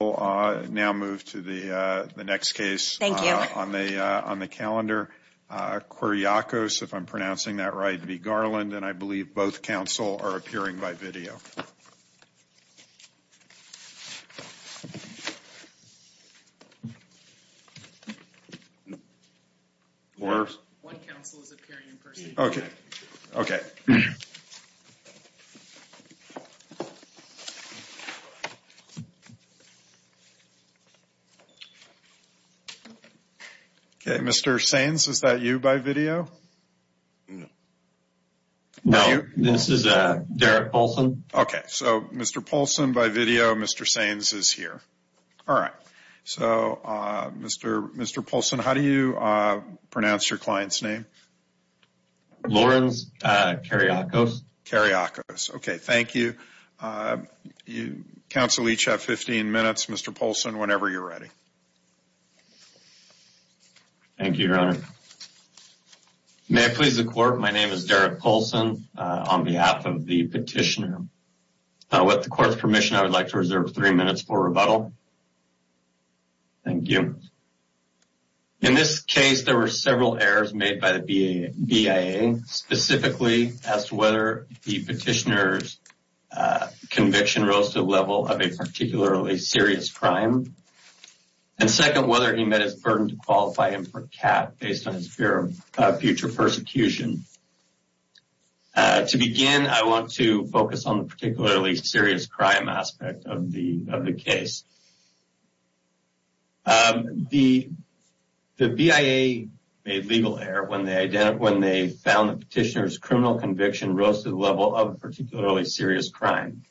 We will now move to the next case on the calendar. Qeryaqos, if I'm pronouncing that right, v. Garland. And I believe both counsel are appearing by video. Mr. Sainz, is that you by video? No, this is Derek Poulsen. Okay, so Mr. Poulsen by video, Mr. Sainz is here. All right. So, Mr. Poulsen, how do you pronounce your client's name? Lawrence Qeryaqos. Qeryaqos. Okay, thank you. Counsel, each have 15 minutes. Mr. Poulsen, whenever you're ready. Thank you, Your Honor. May I please the court? My name is Derek Poulsen on behalf of the petitioner. With the court's permission, I would like to reserve three minutes for rebuttal. Thank you. In this case, there were several errors made by the BIA, specifically as to whether the petitioner's conviction rose to the level of a particularly serious crime, and second, whether he met his burden to qualify him for cap based on his fear of future persecution. To begin, I want to focus on the particularly serious crime aspect of the case. The BIA made legal error when they found the petitioner's criminal conviction rose to the level of a particularly serious crime.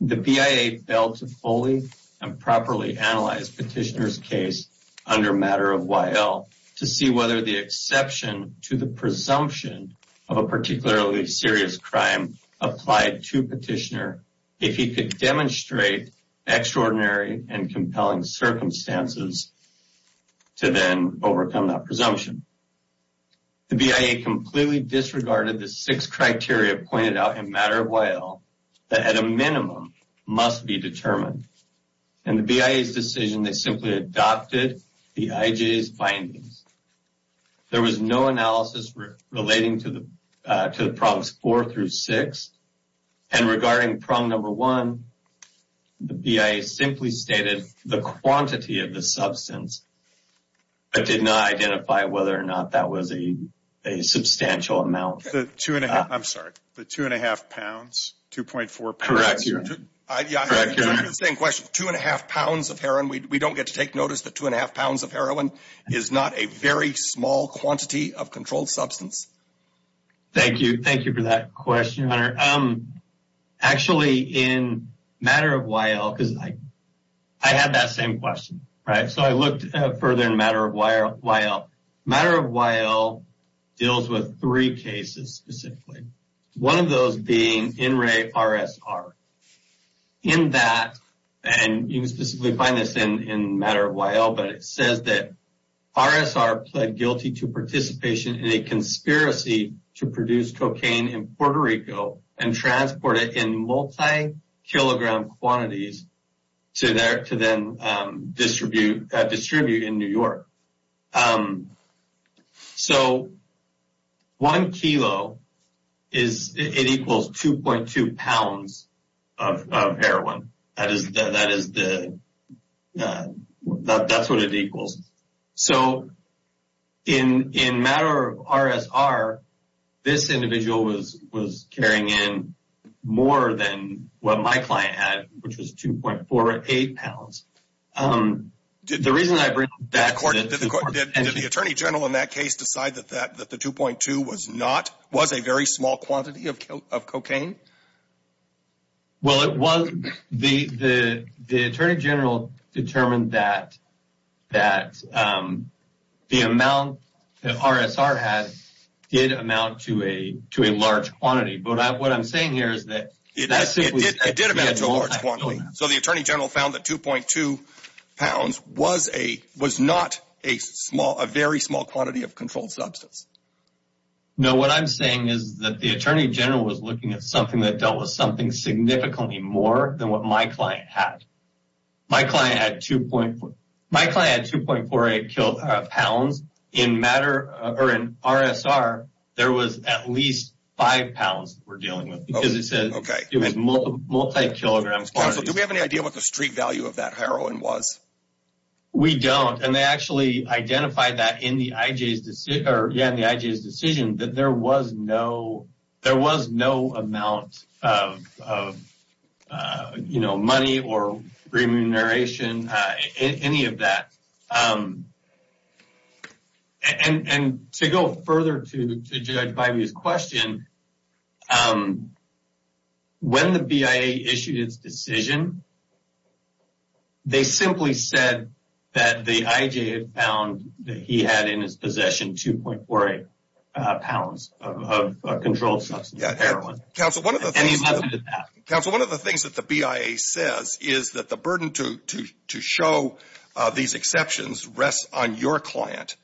The BIA failed to fully and properly analyze petitioner's case under matter of YL to see whether the exception to the presumption of a particularly serious crime applied to petitioner. If he could demonstrate extraordinary and compelling circumstances to then overcome that presumption. The BIA completely disregarded the six criteria pointed out in matter of YL that at a minimum must be determined. In the BIA's decision, they simply adopted the IJ's findings. There was no analysis relating to the problems four through six. And regarding problem number one, the BIA simply stated the quantity of the substance, but did not identify whether or not that was a substantial amount. I'm sorry, the two and a half pounds, 2.4 pounds? Correct. Two and a half pounds of heroin, we don't get to take notice that two and a half pounds of heroin is not a very small quantity of controlled substance. Thank you. Thank you for that question, Hunter. Actually, in matter of YL, because I had that same question, right? So, I looked further in matter of YL. Matter of YL deals with three cases specifically. One of those being NRA-RSR. In that, and you can specifically find this in matter of YL, but it says that RSR pled guilty to participation in a conspiracy to produce cocaine in Puerto Rico and transport it in multi-kilogram quantities to then distribute in New York. So, one kilo, it equals 2.2 pounds of heroin. That's what it equals. So, in matter of RSR, this individual was carrying in more than what my client had, which was 2.48 pounds. The reason I bring up that is because… Did the Attorney General in that case decide that the 2.2 was not, was a very small quantity of cocaine? Well, it was. The Attorney General determined that the amount that RSR had did amount to a large quantity. But what I'm saying here is that… It did amount to a large quantity. So, the Attorney General found that 2.2 pounds was not a very small quantity of controlled substance. No, what I'm saying is that the Attorney General was looking at something that dealt with something significantly more than what my client had. My client had 2.48 pounds. In matter, or in RSR, there was at least 5 pounds that we're dealing with. It was multi-kilogram quantities. Counsel, do we have any idea what the street value of that heroin was? We don't. And they actually identified that in the IJ's decision that there was no amount of money or remuneration, any of that. And to go further to Judge Bivey's question, when the BIA issued its decision, they simply said that the IJ had found that he had in his possession 2.48 pounds of controlled substance heroin. Counsel, one of the things that the BIA says is that the burden to show these exceptions rests on your client.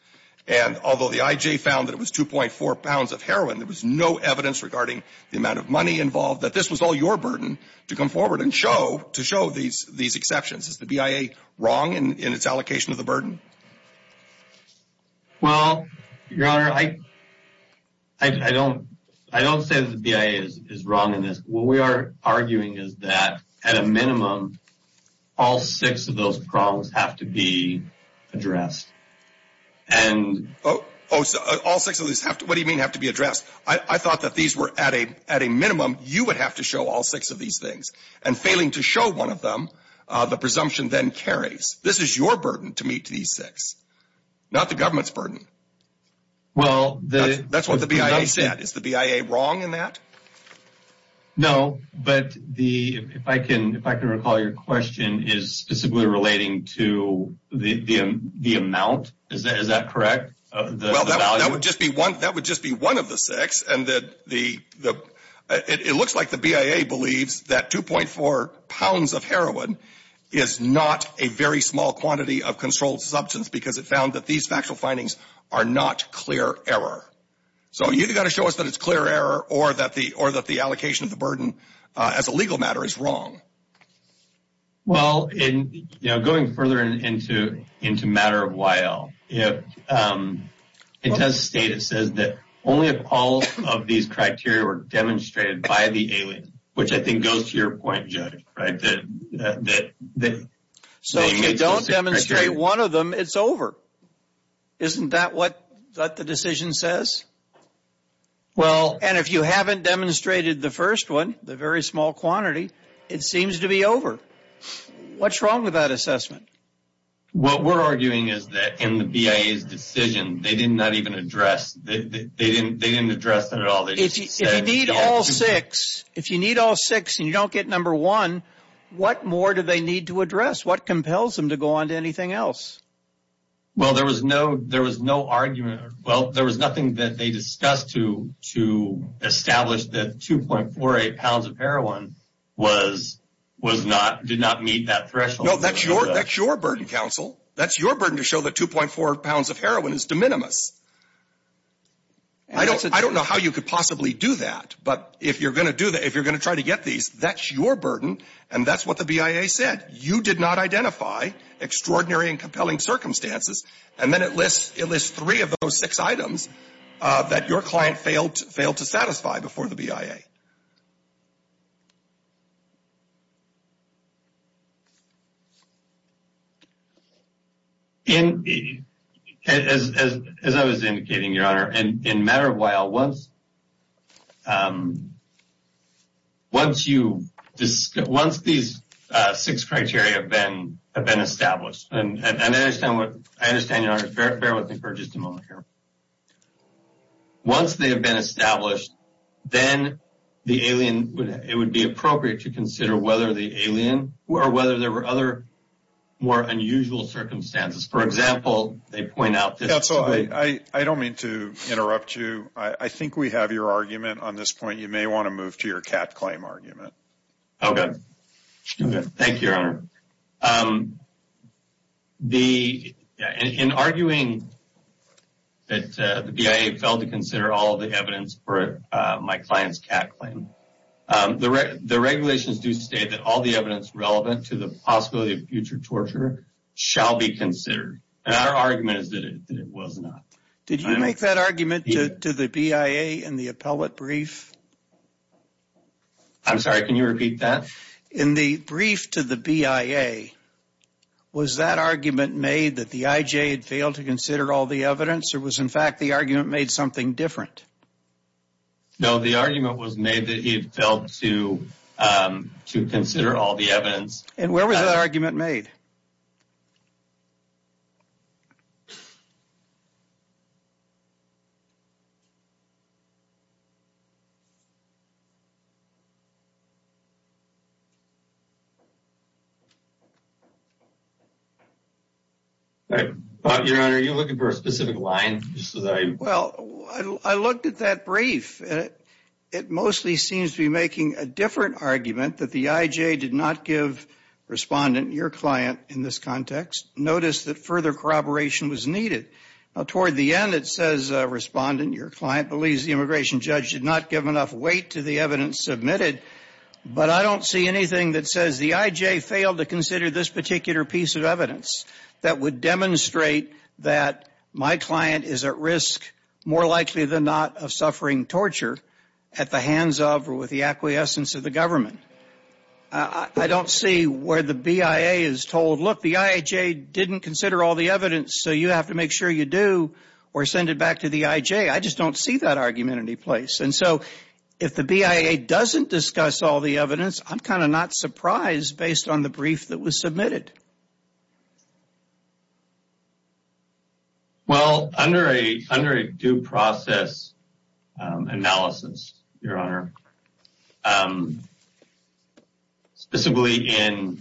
And although the IJ found that it was 2.4 pounds of heroin, there was no evidence regarding the amount of money involved, that this was all your burden to come forward and show these exceptions. Is the BIA wrong in its allocation of the burden? Well, Your Honor, I don't say that the BIA is wrong in this. What we are arguing is that, at a minimum, all six of those problems have to be addressed. Oh, all six of these have to be addressed? What do you mean have to be addressed? I thought that these were, at a minimum, you would have to show all six of these things. And failing to show one of them, the presumption then carries. This is your burden to meet these six, not the government's burden. That's what the BIA said. Is the BIA wrong in that? No, but if I can recall, your question is specifically relating to the amount. Is that correct? Well, that would just be one of the six. It looks like the BIA believes that 2.4 pounds of heroin is not a very small quantity of controlled substance because it found that these factual findings are not clear error. So you've got to show us that it's clear error or that the allocation of the burden as a legal matter is wrong. Well, going further into matter of while, it does state that only if all of these criteria were demonstrated by the alien, which I think goes to your point, Judge. So if you don't demonstrate one of them, it's over. Isn't that what the decision says? And if you haven't demonstrated the first one, the very small quantity, it seems to be over. What's wrong with that assessment? What we're arguing is that in the BIA's decision, they didn't address that at all. If you need all six and you don't get number one, what more do they need to address? What compels them to go on to anything else? Well, there was no argument. Well, there was nothing that they discussed to establish that 2.48 pounds of heroin did not meet that threshold. No, that's your burden, counsel. That's your burden to show that 2.4 pounds of heroin is de minimis. I don't know how you could possibly do that, but if you're going to try to get these, that's your burden, and that's what the BIA said. It said that you did not identify extraordinary and compelling circumstances, and then it lists three of those six items that your client failed to satisfy before the BIA. As I was indicating, Your Honor, in a matter of a while, once these six criteria have been established, and I understand, Your Honor, bear with me for just a moment here. Once they have been established, then it would be appropriate to consider whether the alien or whether there were other more unusual circumstances. For example, they point out this. Counsel, I don't mean to interrupt you. I think we have your argument on this point. You may want to move to your cat claim argument. Okay. Thank you, Your Honor. In arguing that the BIA failed to consider all the evidence for my client's cat claim, the regulations do state that all the evidence relevant to the possibility of future torture shall be considered, and our argument is that it was not. Did you make that argument to the BIA in the appellate brief? I'm sorry, can you repeat that? In the brief to the BIA, was that argument made that the IJ had failed to consider all the evidence, or was, in fact, the argument made something different? No, the argument was made that he had failed to consider all the evidence. And where was that argument made? Your Honor, are you looking for a specific line? Well, I looked at that brief. It mostly seems to be making a different argument that the IJ did not give Respondent, your client, in this context. Notice that further corroboration was needed. Now, toward the end, it says Respondent, your client, believes the immigration judge did not give enough weight to the evidence submitted, but I don't see anything that says the IJ failed to consider this particular piece of evidence that would demonstrate that my client is at risk, more likely than not, of suffering torture at the hands of or with the acquiescence of the government. I don't see where the BIA is told, look, the IJ didn't consider all the evidence, so you have to make sure you do or send it back to the IJ. I just don't see that argument in any place. And so if the BIA doesn't discuss all the evidence, I'm kind of not surprised based on the brief that was submitted. Well, under a due process analysis, your Honor, specifically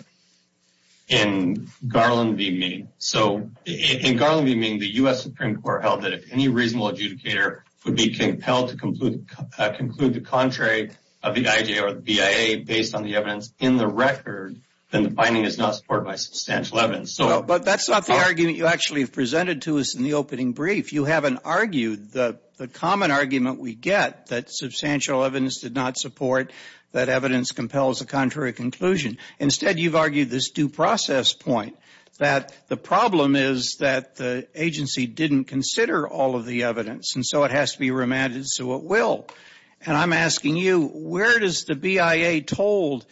in Garland v. Mean, so in Garland v. Mean, the U.S. Supreme Court held that if any reasonable adjudicator would be compelled to conclude the contrary of the IJ or the BIA based on the evidence in the record, then the finding is not supported by substantial evidence. But that's not the argument you actually presented to us in the opening brief. You haven't argued the common argument we get, that substantial evidence did not support that evidence compels a contrary conclusion. Instead, you've argued this due process point, that the problem is that the agency didn't consider all of the evidence, and so it has to be remanded so it will. And I'm asking you, where is the BIA told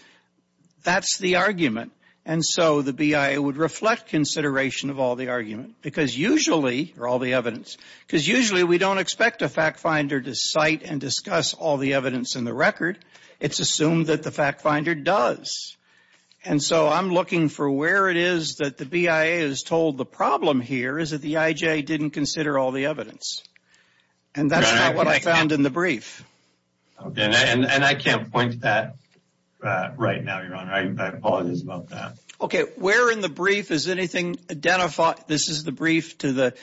that's the argument? And so the BIA would reflect consideration of all the evidence. Because usually we don't expect a fact finder to cite and discuss all the evidence in the record. It's assumed that the fact finder does. And so I'm looking for where it is that the BIA is told the problem here is that the IJ didn't consider all the evidence. And that's not what I found in the brief. And I can't point to that right now, your Honor. I apologize about that. Okay, where in the brief is anything identified? This is the brief to the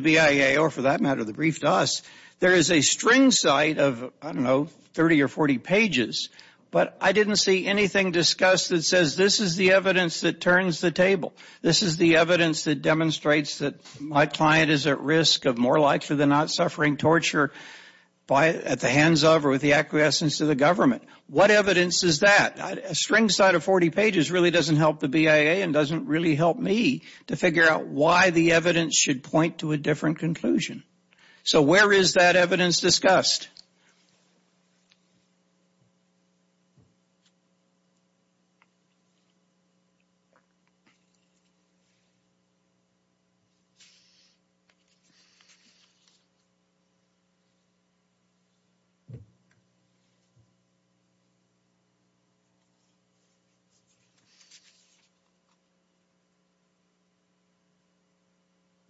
BIA, or for that matter, the brief to us. There is a string cite of, I don't know, 30 or 40 pages, but I didn't see anything discussed that says this is the evidence that turns the table. This is the evidence that demonstrates that my client is at risk of more likely than not suffering torture at the hands of or with the acquiescence of the government. What evidence is that? A string cite of 40 pages really doesn't help the BIA and doesn't really help me to figure out why the evidence should point to a different conclusion. So where is that evidence discussed?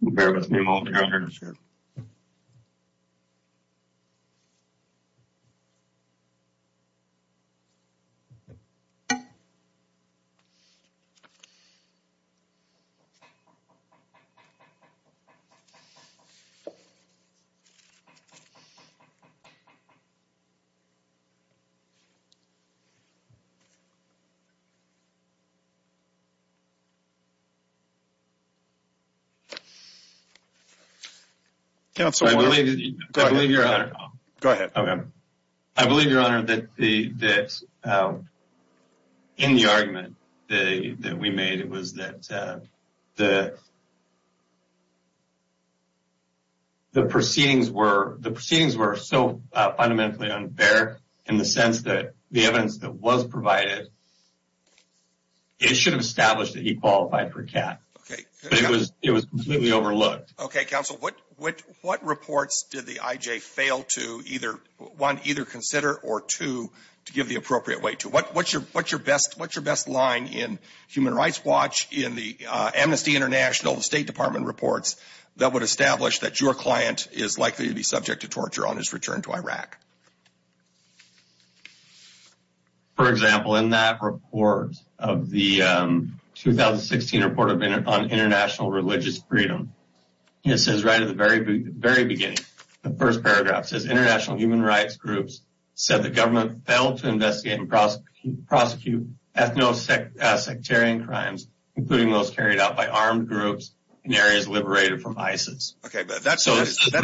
Okay. Okay. Okay. Okay. Okay. Counsel, go ahead. Go ahead. I believe, your Honor, that in the argument that we made, it was that the proceedings were so fundamentally unfair in the sense that the evidence that was provided, it should have established that he qualified for CAT. But it was completely overlooked. Okay. Counsel, what reports did the IJ fail to either, one, either consider, or two, to give the appropriate weight to? What's your best line in Human Rights Watch, in the Amnesty International, the State Department reports, that would establish that your client is likely to be subject to torture on his return to Iraq? For example, in that report of the 2016 report on international religious freedom, it says right at the very beginning, the first paragraph says, international human rights groups said the government failed to investigate and prosecute ethno-sectarian crimes, including those carried out by armed groups in areas liberated from ISIS. Okay. That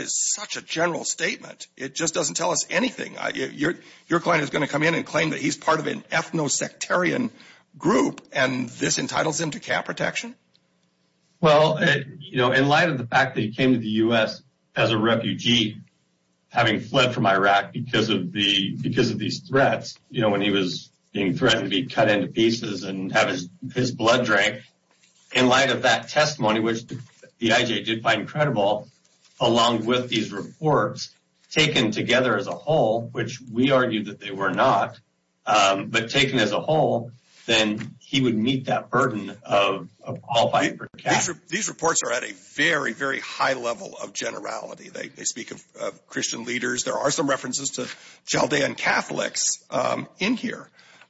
is such a general statement. It just doesn't tell us anything. Your client is going to come in and claim that he's part of an ethno-sectarian group, and this entitles him to CAT protection? Well, in light of the fact that he came to the U.S. as a refugee, having fled from Iraq because of these threats, when he was being threatened to be cut into pieces and have his blood drank, in light of that testimony, which the IJ did find credible, along with these reports, taken together as a whole, which we argued that they were not, but taken as a whole, then he would meet that burden of qualifying for CAT. These reports are at a very, very high level of generality. They speak of Christian leaders. There are some references to Chaldean Catholics in here.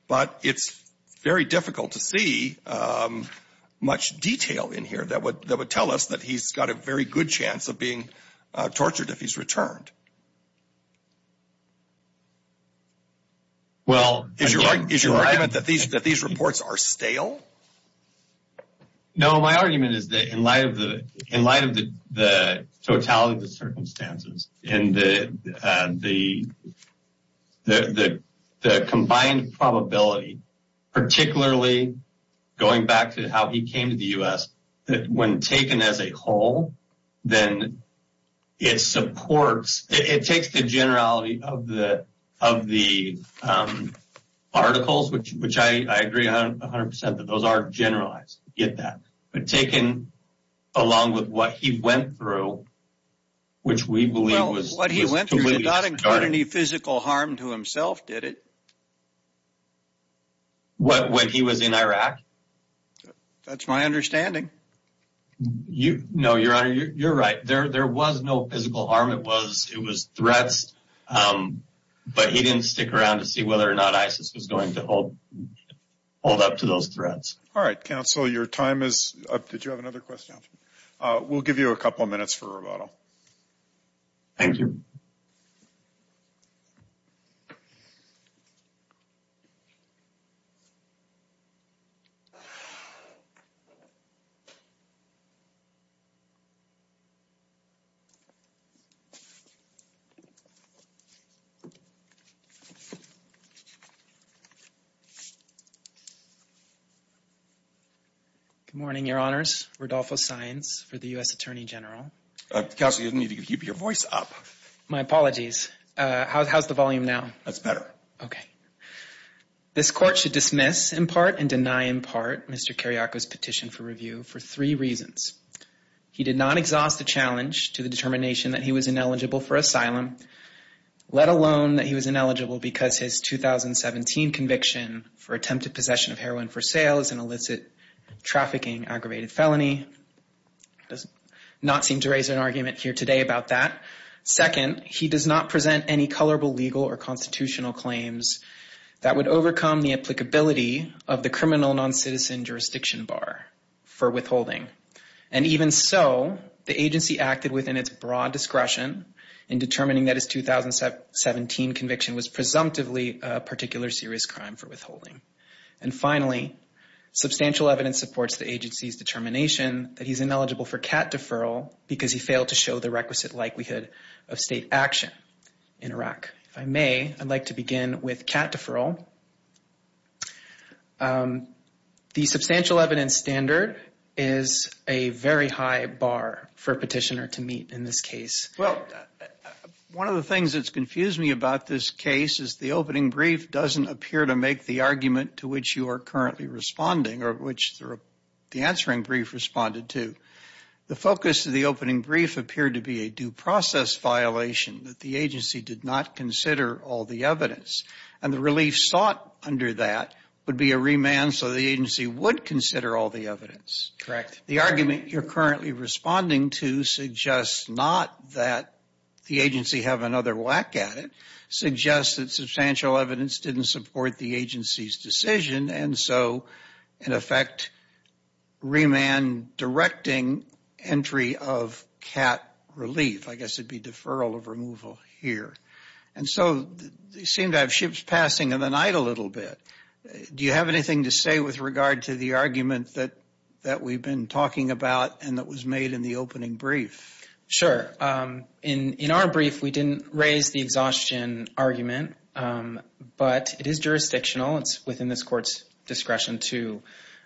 But it's very difficult to see much detail in here that would tell us that he's got a very good chance of being tortured if he's returned. Is your argument that these reports are stale? No, my argument is that in light of the totality of the circumstances and the combined probability, particularly going back to how he came to the U.S., when taken as a whole, then it supports, it takes the generality of the articles, which I agree 100% that those are generalized, get that, but taken along with what he went through, which we believe was completely distorted. Well, what he went through did not include any physical harm to himself, did it? What, when he was in Iraq? That's my understanding. No, Your Honor, you're right. There was no physical harm. It was threats, but he didn't stick around to see whether or not ISIS was going to hold up to those threats. All right, counsel, your time is up. Did you have another question? We'll give you a couple of minutes for rebuttal. Thank you. Good morning, Your Honors. Rodolfo Saenz for the U.S. Attorney General. Counsel, you need to keep your voice up. My apologies. How's the volume now? That's better. Okay. This court should dismiss in part and deny in part Mr. Carriaco's petition for review for three reasons. He did not exhaust the challenge to the determination that he was ineligible for asylum, let alone that he was ineligible because his 2017 conviction for attempted possession of heroin for sale is an illicit trafficking aggravated felony. Does not seem to raise an argument here today about that. Second, he does not present any colorable legal or constitutional claims that would overcome the applicability of the criminal non-citizen jurisdiction bar for withholding. And even so, the agency acted within its broad discretion in determining that his 2017 conviction was presumptively a particular serious crime for withholding. And finally, substantial evidence supports the agency's determination that he's ineligible for CAT deferral because he failed to show the requisite likelihood of state action in Iraq. If I may, I'd like to begin with CAT deferral. The substantial evidence standard is a very high bar for a petitioner to meet in this case. Well, one of the things that's confused me about this case is the opening brief doesn't appear to make the argument to which you are currently responding or which the answering brief responded to. The focus of the opening brief appeared to be a due process violation that the agency did not consider all the evidence. And the relief sought under that would be a remand so the agency would consider all the evidence. Correct. The argument you're currently responding to suggests not that the agency have another whack at it, suggests that substantial evidence didn't support the agency's decision, and so, in effect, remand directing entry of CAT relief. I guess it'd be deferral of removal here. And so, you seem to have ships passing in the night a little bit. Do you have anything to say with regard to the argument that we've been talking about and that was made in the opening brief? Sure. In our brief, we didn't raise the exhaustion argument, but it is jurisdictional. It's within this court's discretion to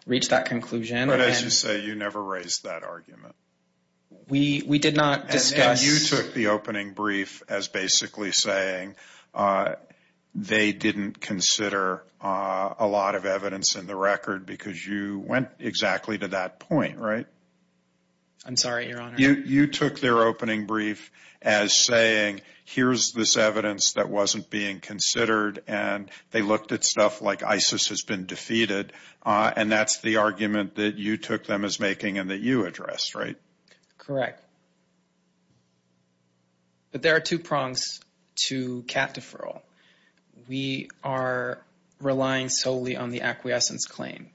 reach that conclusion. But as you say, you never raised that argument. We did not discuss. And you took the opening brief as basically saying they didn't consider a lot of evidence in the record because you went exactly to that point, right? I'm sorry, Your Honor. You took their opening brief as saying here's this evidence that wasn't being considered and they looked at stuff like ISIS has been defeated, and that's the argument that you took them as making and that you addressed, right? Correct. But there are two prongs to CAT deferral. We are relying solely on the acquiescence claim.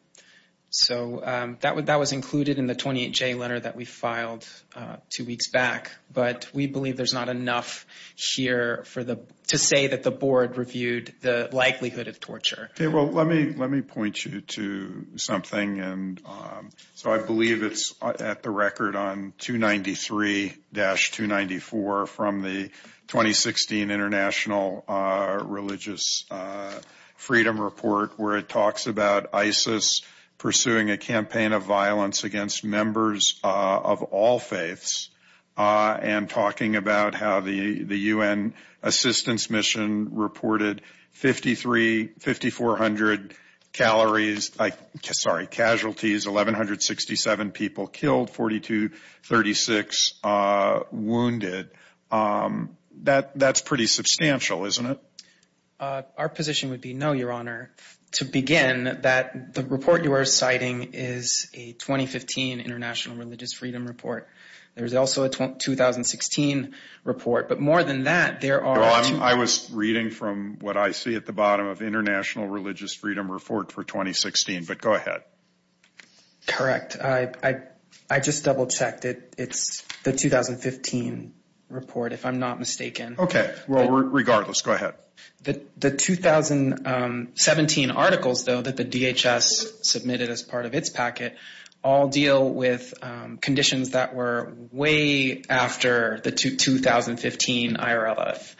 So that was included in the 28J letter that we filed two weeks back, but we believe there's not enough here to say that the board reviewed the likelihood of torture. Well, let me point you to something. So I believe it's at the record on 293-294 from the 2016 International Religious Freedom Report where it talks about ISIS pursuing a campaign of violence against members of all faiths and talking about how the U.N. assistance mission reported 5,400 casualties, 1,167 people killed, 4,236 wounded. That's pretty substantial, isn't it? Our position would be no, Your Honor. To begin, the report you are citing is a 2015 International Religious Freedom Report. There's also a 2016 report, but more than that, there are two. I was reading from what I see at the bottom of International Religious Freedom Report for 2016, but go ahead. Correct. I just double-checked. It's the 2015 report, if I'm not mistaken. Okay. Well, regardless, go ahead. The 2017 articles, though, that the DHS submitted as part of its packet all deal with conditions that were way after the 2015 IRLF.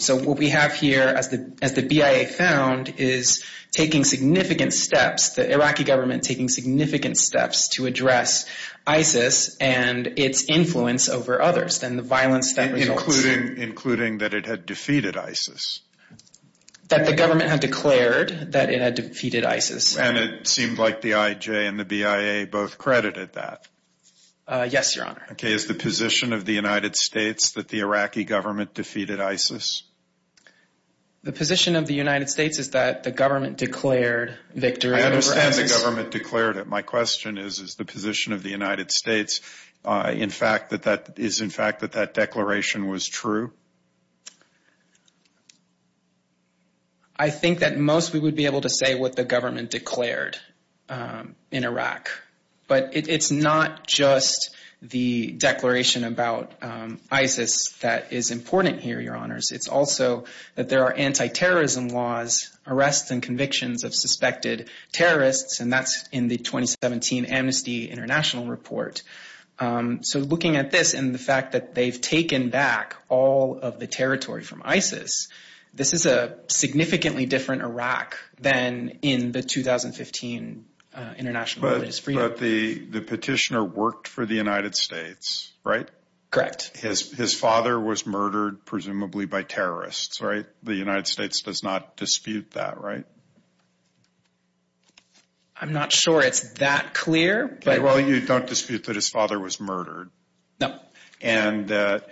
So what we have here, as the BIA found, is taking significant steps, the Iraqi government taking significant steps to address ISIS and its influence over others, and the violence that results. Including that it had defeated ISIS. That the government had declared that it had defeated ISIS. And it seemed like the IJ and the BIA both credited that. Yes, Your Honor. Okay. Is the position of the United States that the Iraqi government defeated ISIS? The position of the United States is that the government declared victory over ISIS. I understand the government declared it. My question is, is the position of the United States in fact that that declaration was true? I think that most we would be able to say what the government declared in Iraq. But it's not just the declaration about ISIS that is important here, Your Honors. It's also that there are anti-terrorism laws, arrests, and convictions of suspected terrorists, and that's in the 2017 Amnesty International report. So looking at this and the fact that they've taken back all of the territory from ISIS, this is a significantly different Iraq than in the 2015 international. But the petitioner worked for the United States, right? Correct. His father was murdered presumably by terrorists, right? The United States does not dispute that, right? I'm not sure it's that clear. Well, you don't dispute that his father was murdered. No. And the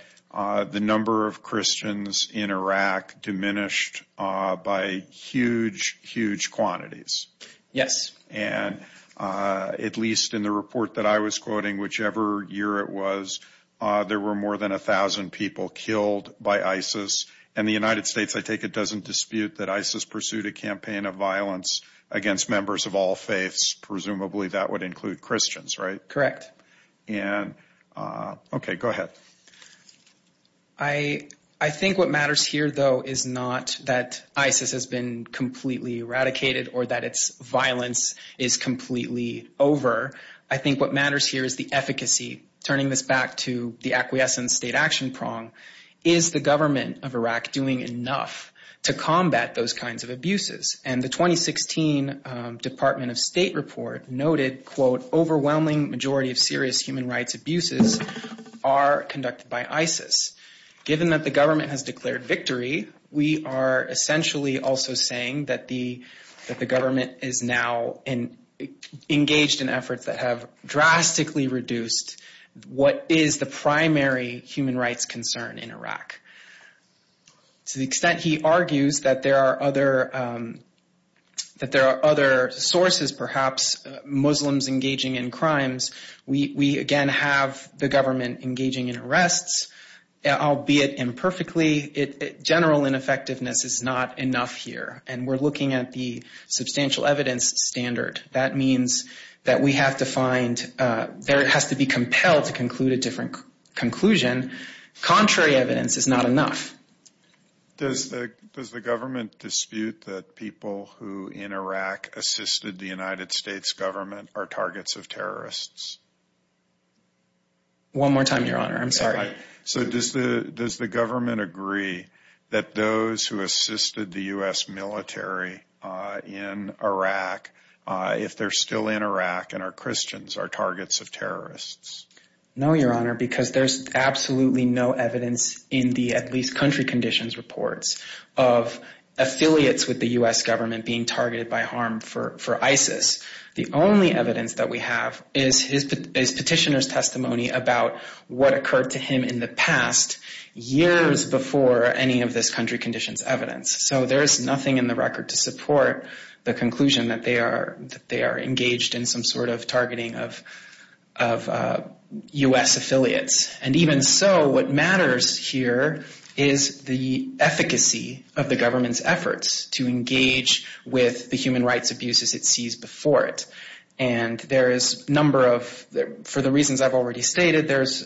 number of Christians in Iraq diminished by huge, huge quantities. Yes. And at least in the report that I was quoting, whichever year it was, there were more than 1,000 people killed by ISIS. And the United States, I take it, doesn't dispute that ISIS pursued a campaign of violence against members of all faiths. Presumably that would include Christians, right? Correct. Okay, go ahead. I think what matters here, though, is not that ISIS has been completely eradicated or that its violence is completely over. I think what matters here is the efficacy. Turning this back to the acquiescence state action prong, is the government of Iraq doing enough to combat those kinds of abuses? And the 2016 Department of State report noted, quote, overwhelming majority of serious human rights abuses are conducted by ISIS. Given that the government has declared victory, we are essentially also saying that the government is now engaged in efforts that have drastically reduced what is the primary human rights concern in Iraq. To the extent he argues that there are other sources, perhaps, Muslims engaging in crimes, we, again, have the government engaging in arrests, albeit imperfectly. General ineffectiveness is not enough here. And we're looking at the substantial evidence standard. That means that we have to find, there has to be compelled to conclude a different conclusion. Contrary evidence is not enough. Does the government dispute that people who, in Iraq, assisted the United States government are targets of terrorists? So does the government agree that those who assisted the U.S. military in Iraq, if they're still in Iraq and are Christians, are targets of terrorists? No, Your Honor, because there's absolutely no evidence in the at least country conditions reports of affiliates with the U.S. government being targeted by harm for ISIS. The only evidence that we have is petitioner's testimony about what occurred to him in the past, years before any of this country conditions evidence. So there is nothing in the record to support the conclusion that they are engaged in some sort of targeting of U.S. affiliates. And even so, what matters here is the efficacy of the government's efforts to engage with the human rights abuses it sees before it. And there is a number of, for the reasons I've already stated, there's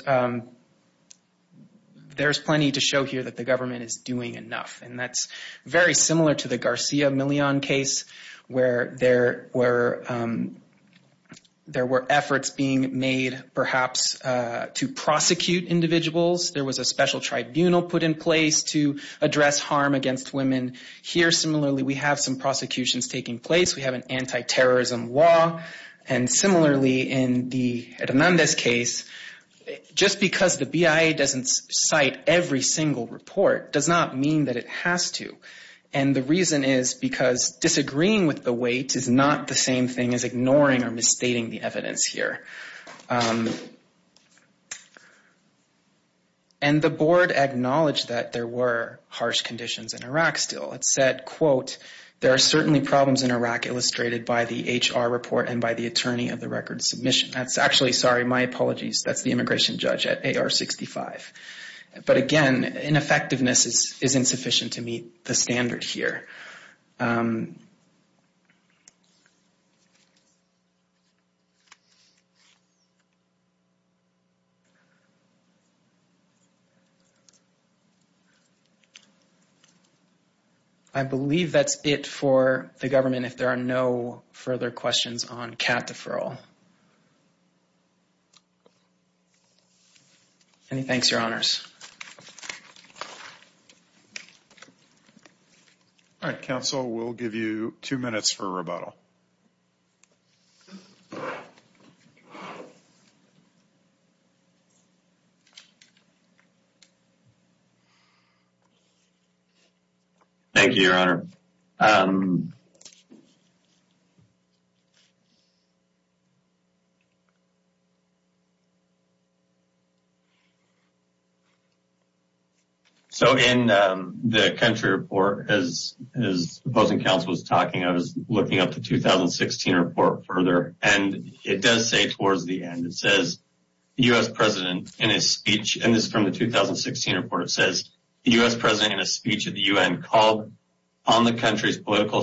plenty to show here that the government is doing enough. And that's very similar to the Garcia Millon case, where there were efforts being made perhaps to prosecute individuals. There was a special tribunal put in place to address harm against women. Here, similarly, we have some prosecutions taking place. We have an anti-terrorism law. And similarly, in the Hernandez case, just because the BIA doesn't cite every single report does not mean that it has to. And the reason is because disagreeing with the weight is not the same thing as ignoring or misstating the evidence here. And the board acknowledged that there were harsh conditions in Iraq still. It said, quote, there are certainly problems in Iraq illustrated by the HR report and by the attorney of the record submission. That's actually, sorry, my apologies, that's the immigration judge at AR-65. But again, ineffectiveness is insufficient to meet the standard here. I believe that's it for the government, if there are no further questions on cap deferral. And thanks, Your Honors. All right. Council, we'll give you two minutes for rebuttal. Thank you, Your Honor. Thank you, Your Honor. So in the country report, as opposing counsel was talking, I was looking up the 2016 report further, and it does say towards the end, it says the U.S. president in his speech, and this is from the 2016 report, it says the U.S. president in a speech at the U.N. called on the country's political,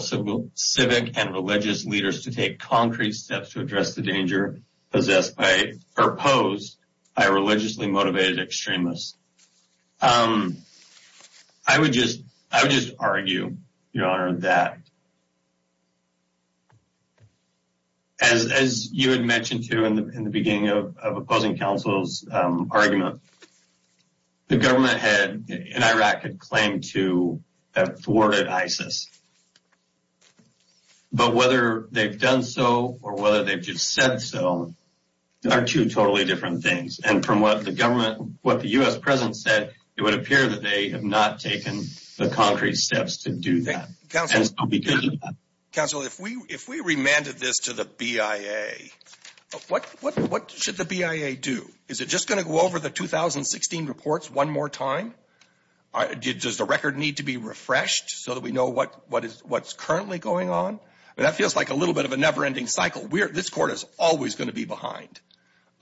civic, and religious leaders to take concrete steps to address the danger possessed by or opposed by religiously motivated extremists. I would just argue, Your Honor, that as you had mentioned too in the beginning of opposing counsel's argument, the government in Iraq had claimed to have thwarted ISIS. But whether they've done so or whether they've just said so are two totally different things. And from what the government, what the U.S. president said, it would appear that they have not taken the concrete steps to do that. Counsel, if we remanded this to the BIA, what should the BIA do? Is it just going to go over the 2016 reports one more time? Does the record need to be refreshed so that we know what's currently going on? That feels like a little bit of a never-ending cycle. This court is always going to be behind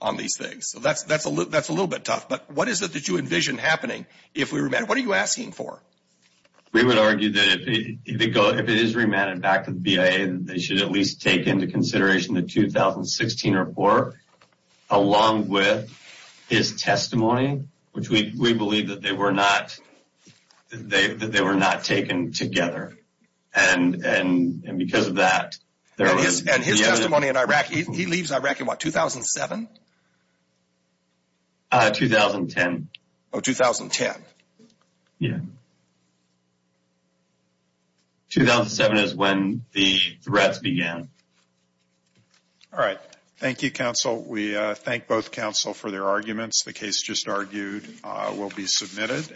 on these things. So that's a little bit tough. But what is it that you envision happening? What are you asking for? We would argue that if it is remanded back to the BIA, they should at least take into consideration the 2016 report along with his testimony, which we believe that they were not taken together. And because of that, there is... And his testimony in Iraq, he leaves Iraq in what, 2007? 2010. Oh, 2010. Yeah. 2007 is when the threats began. All right. Thank you, counsel. We thank both counsel for their arguments. The case just argued will be submitted.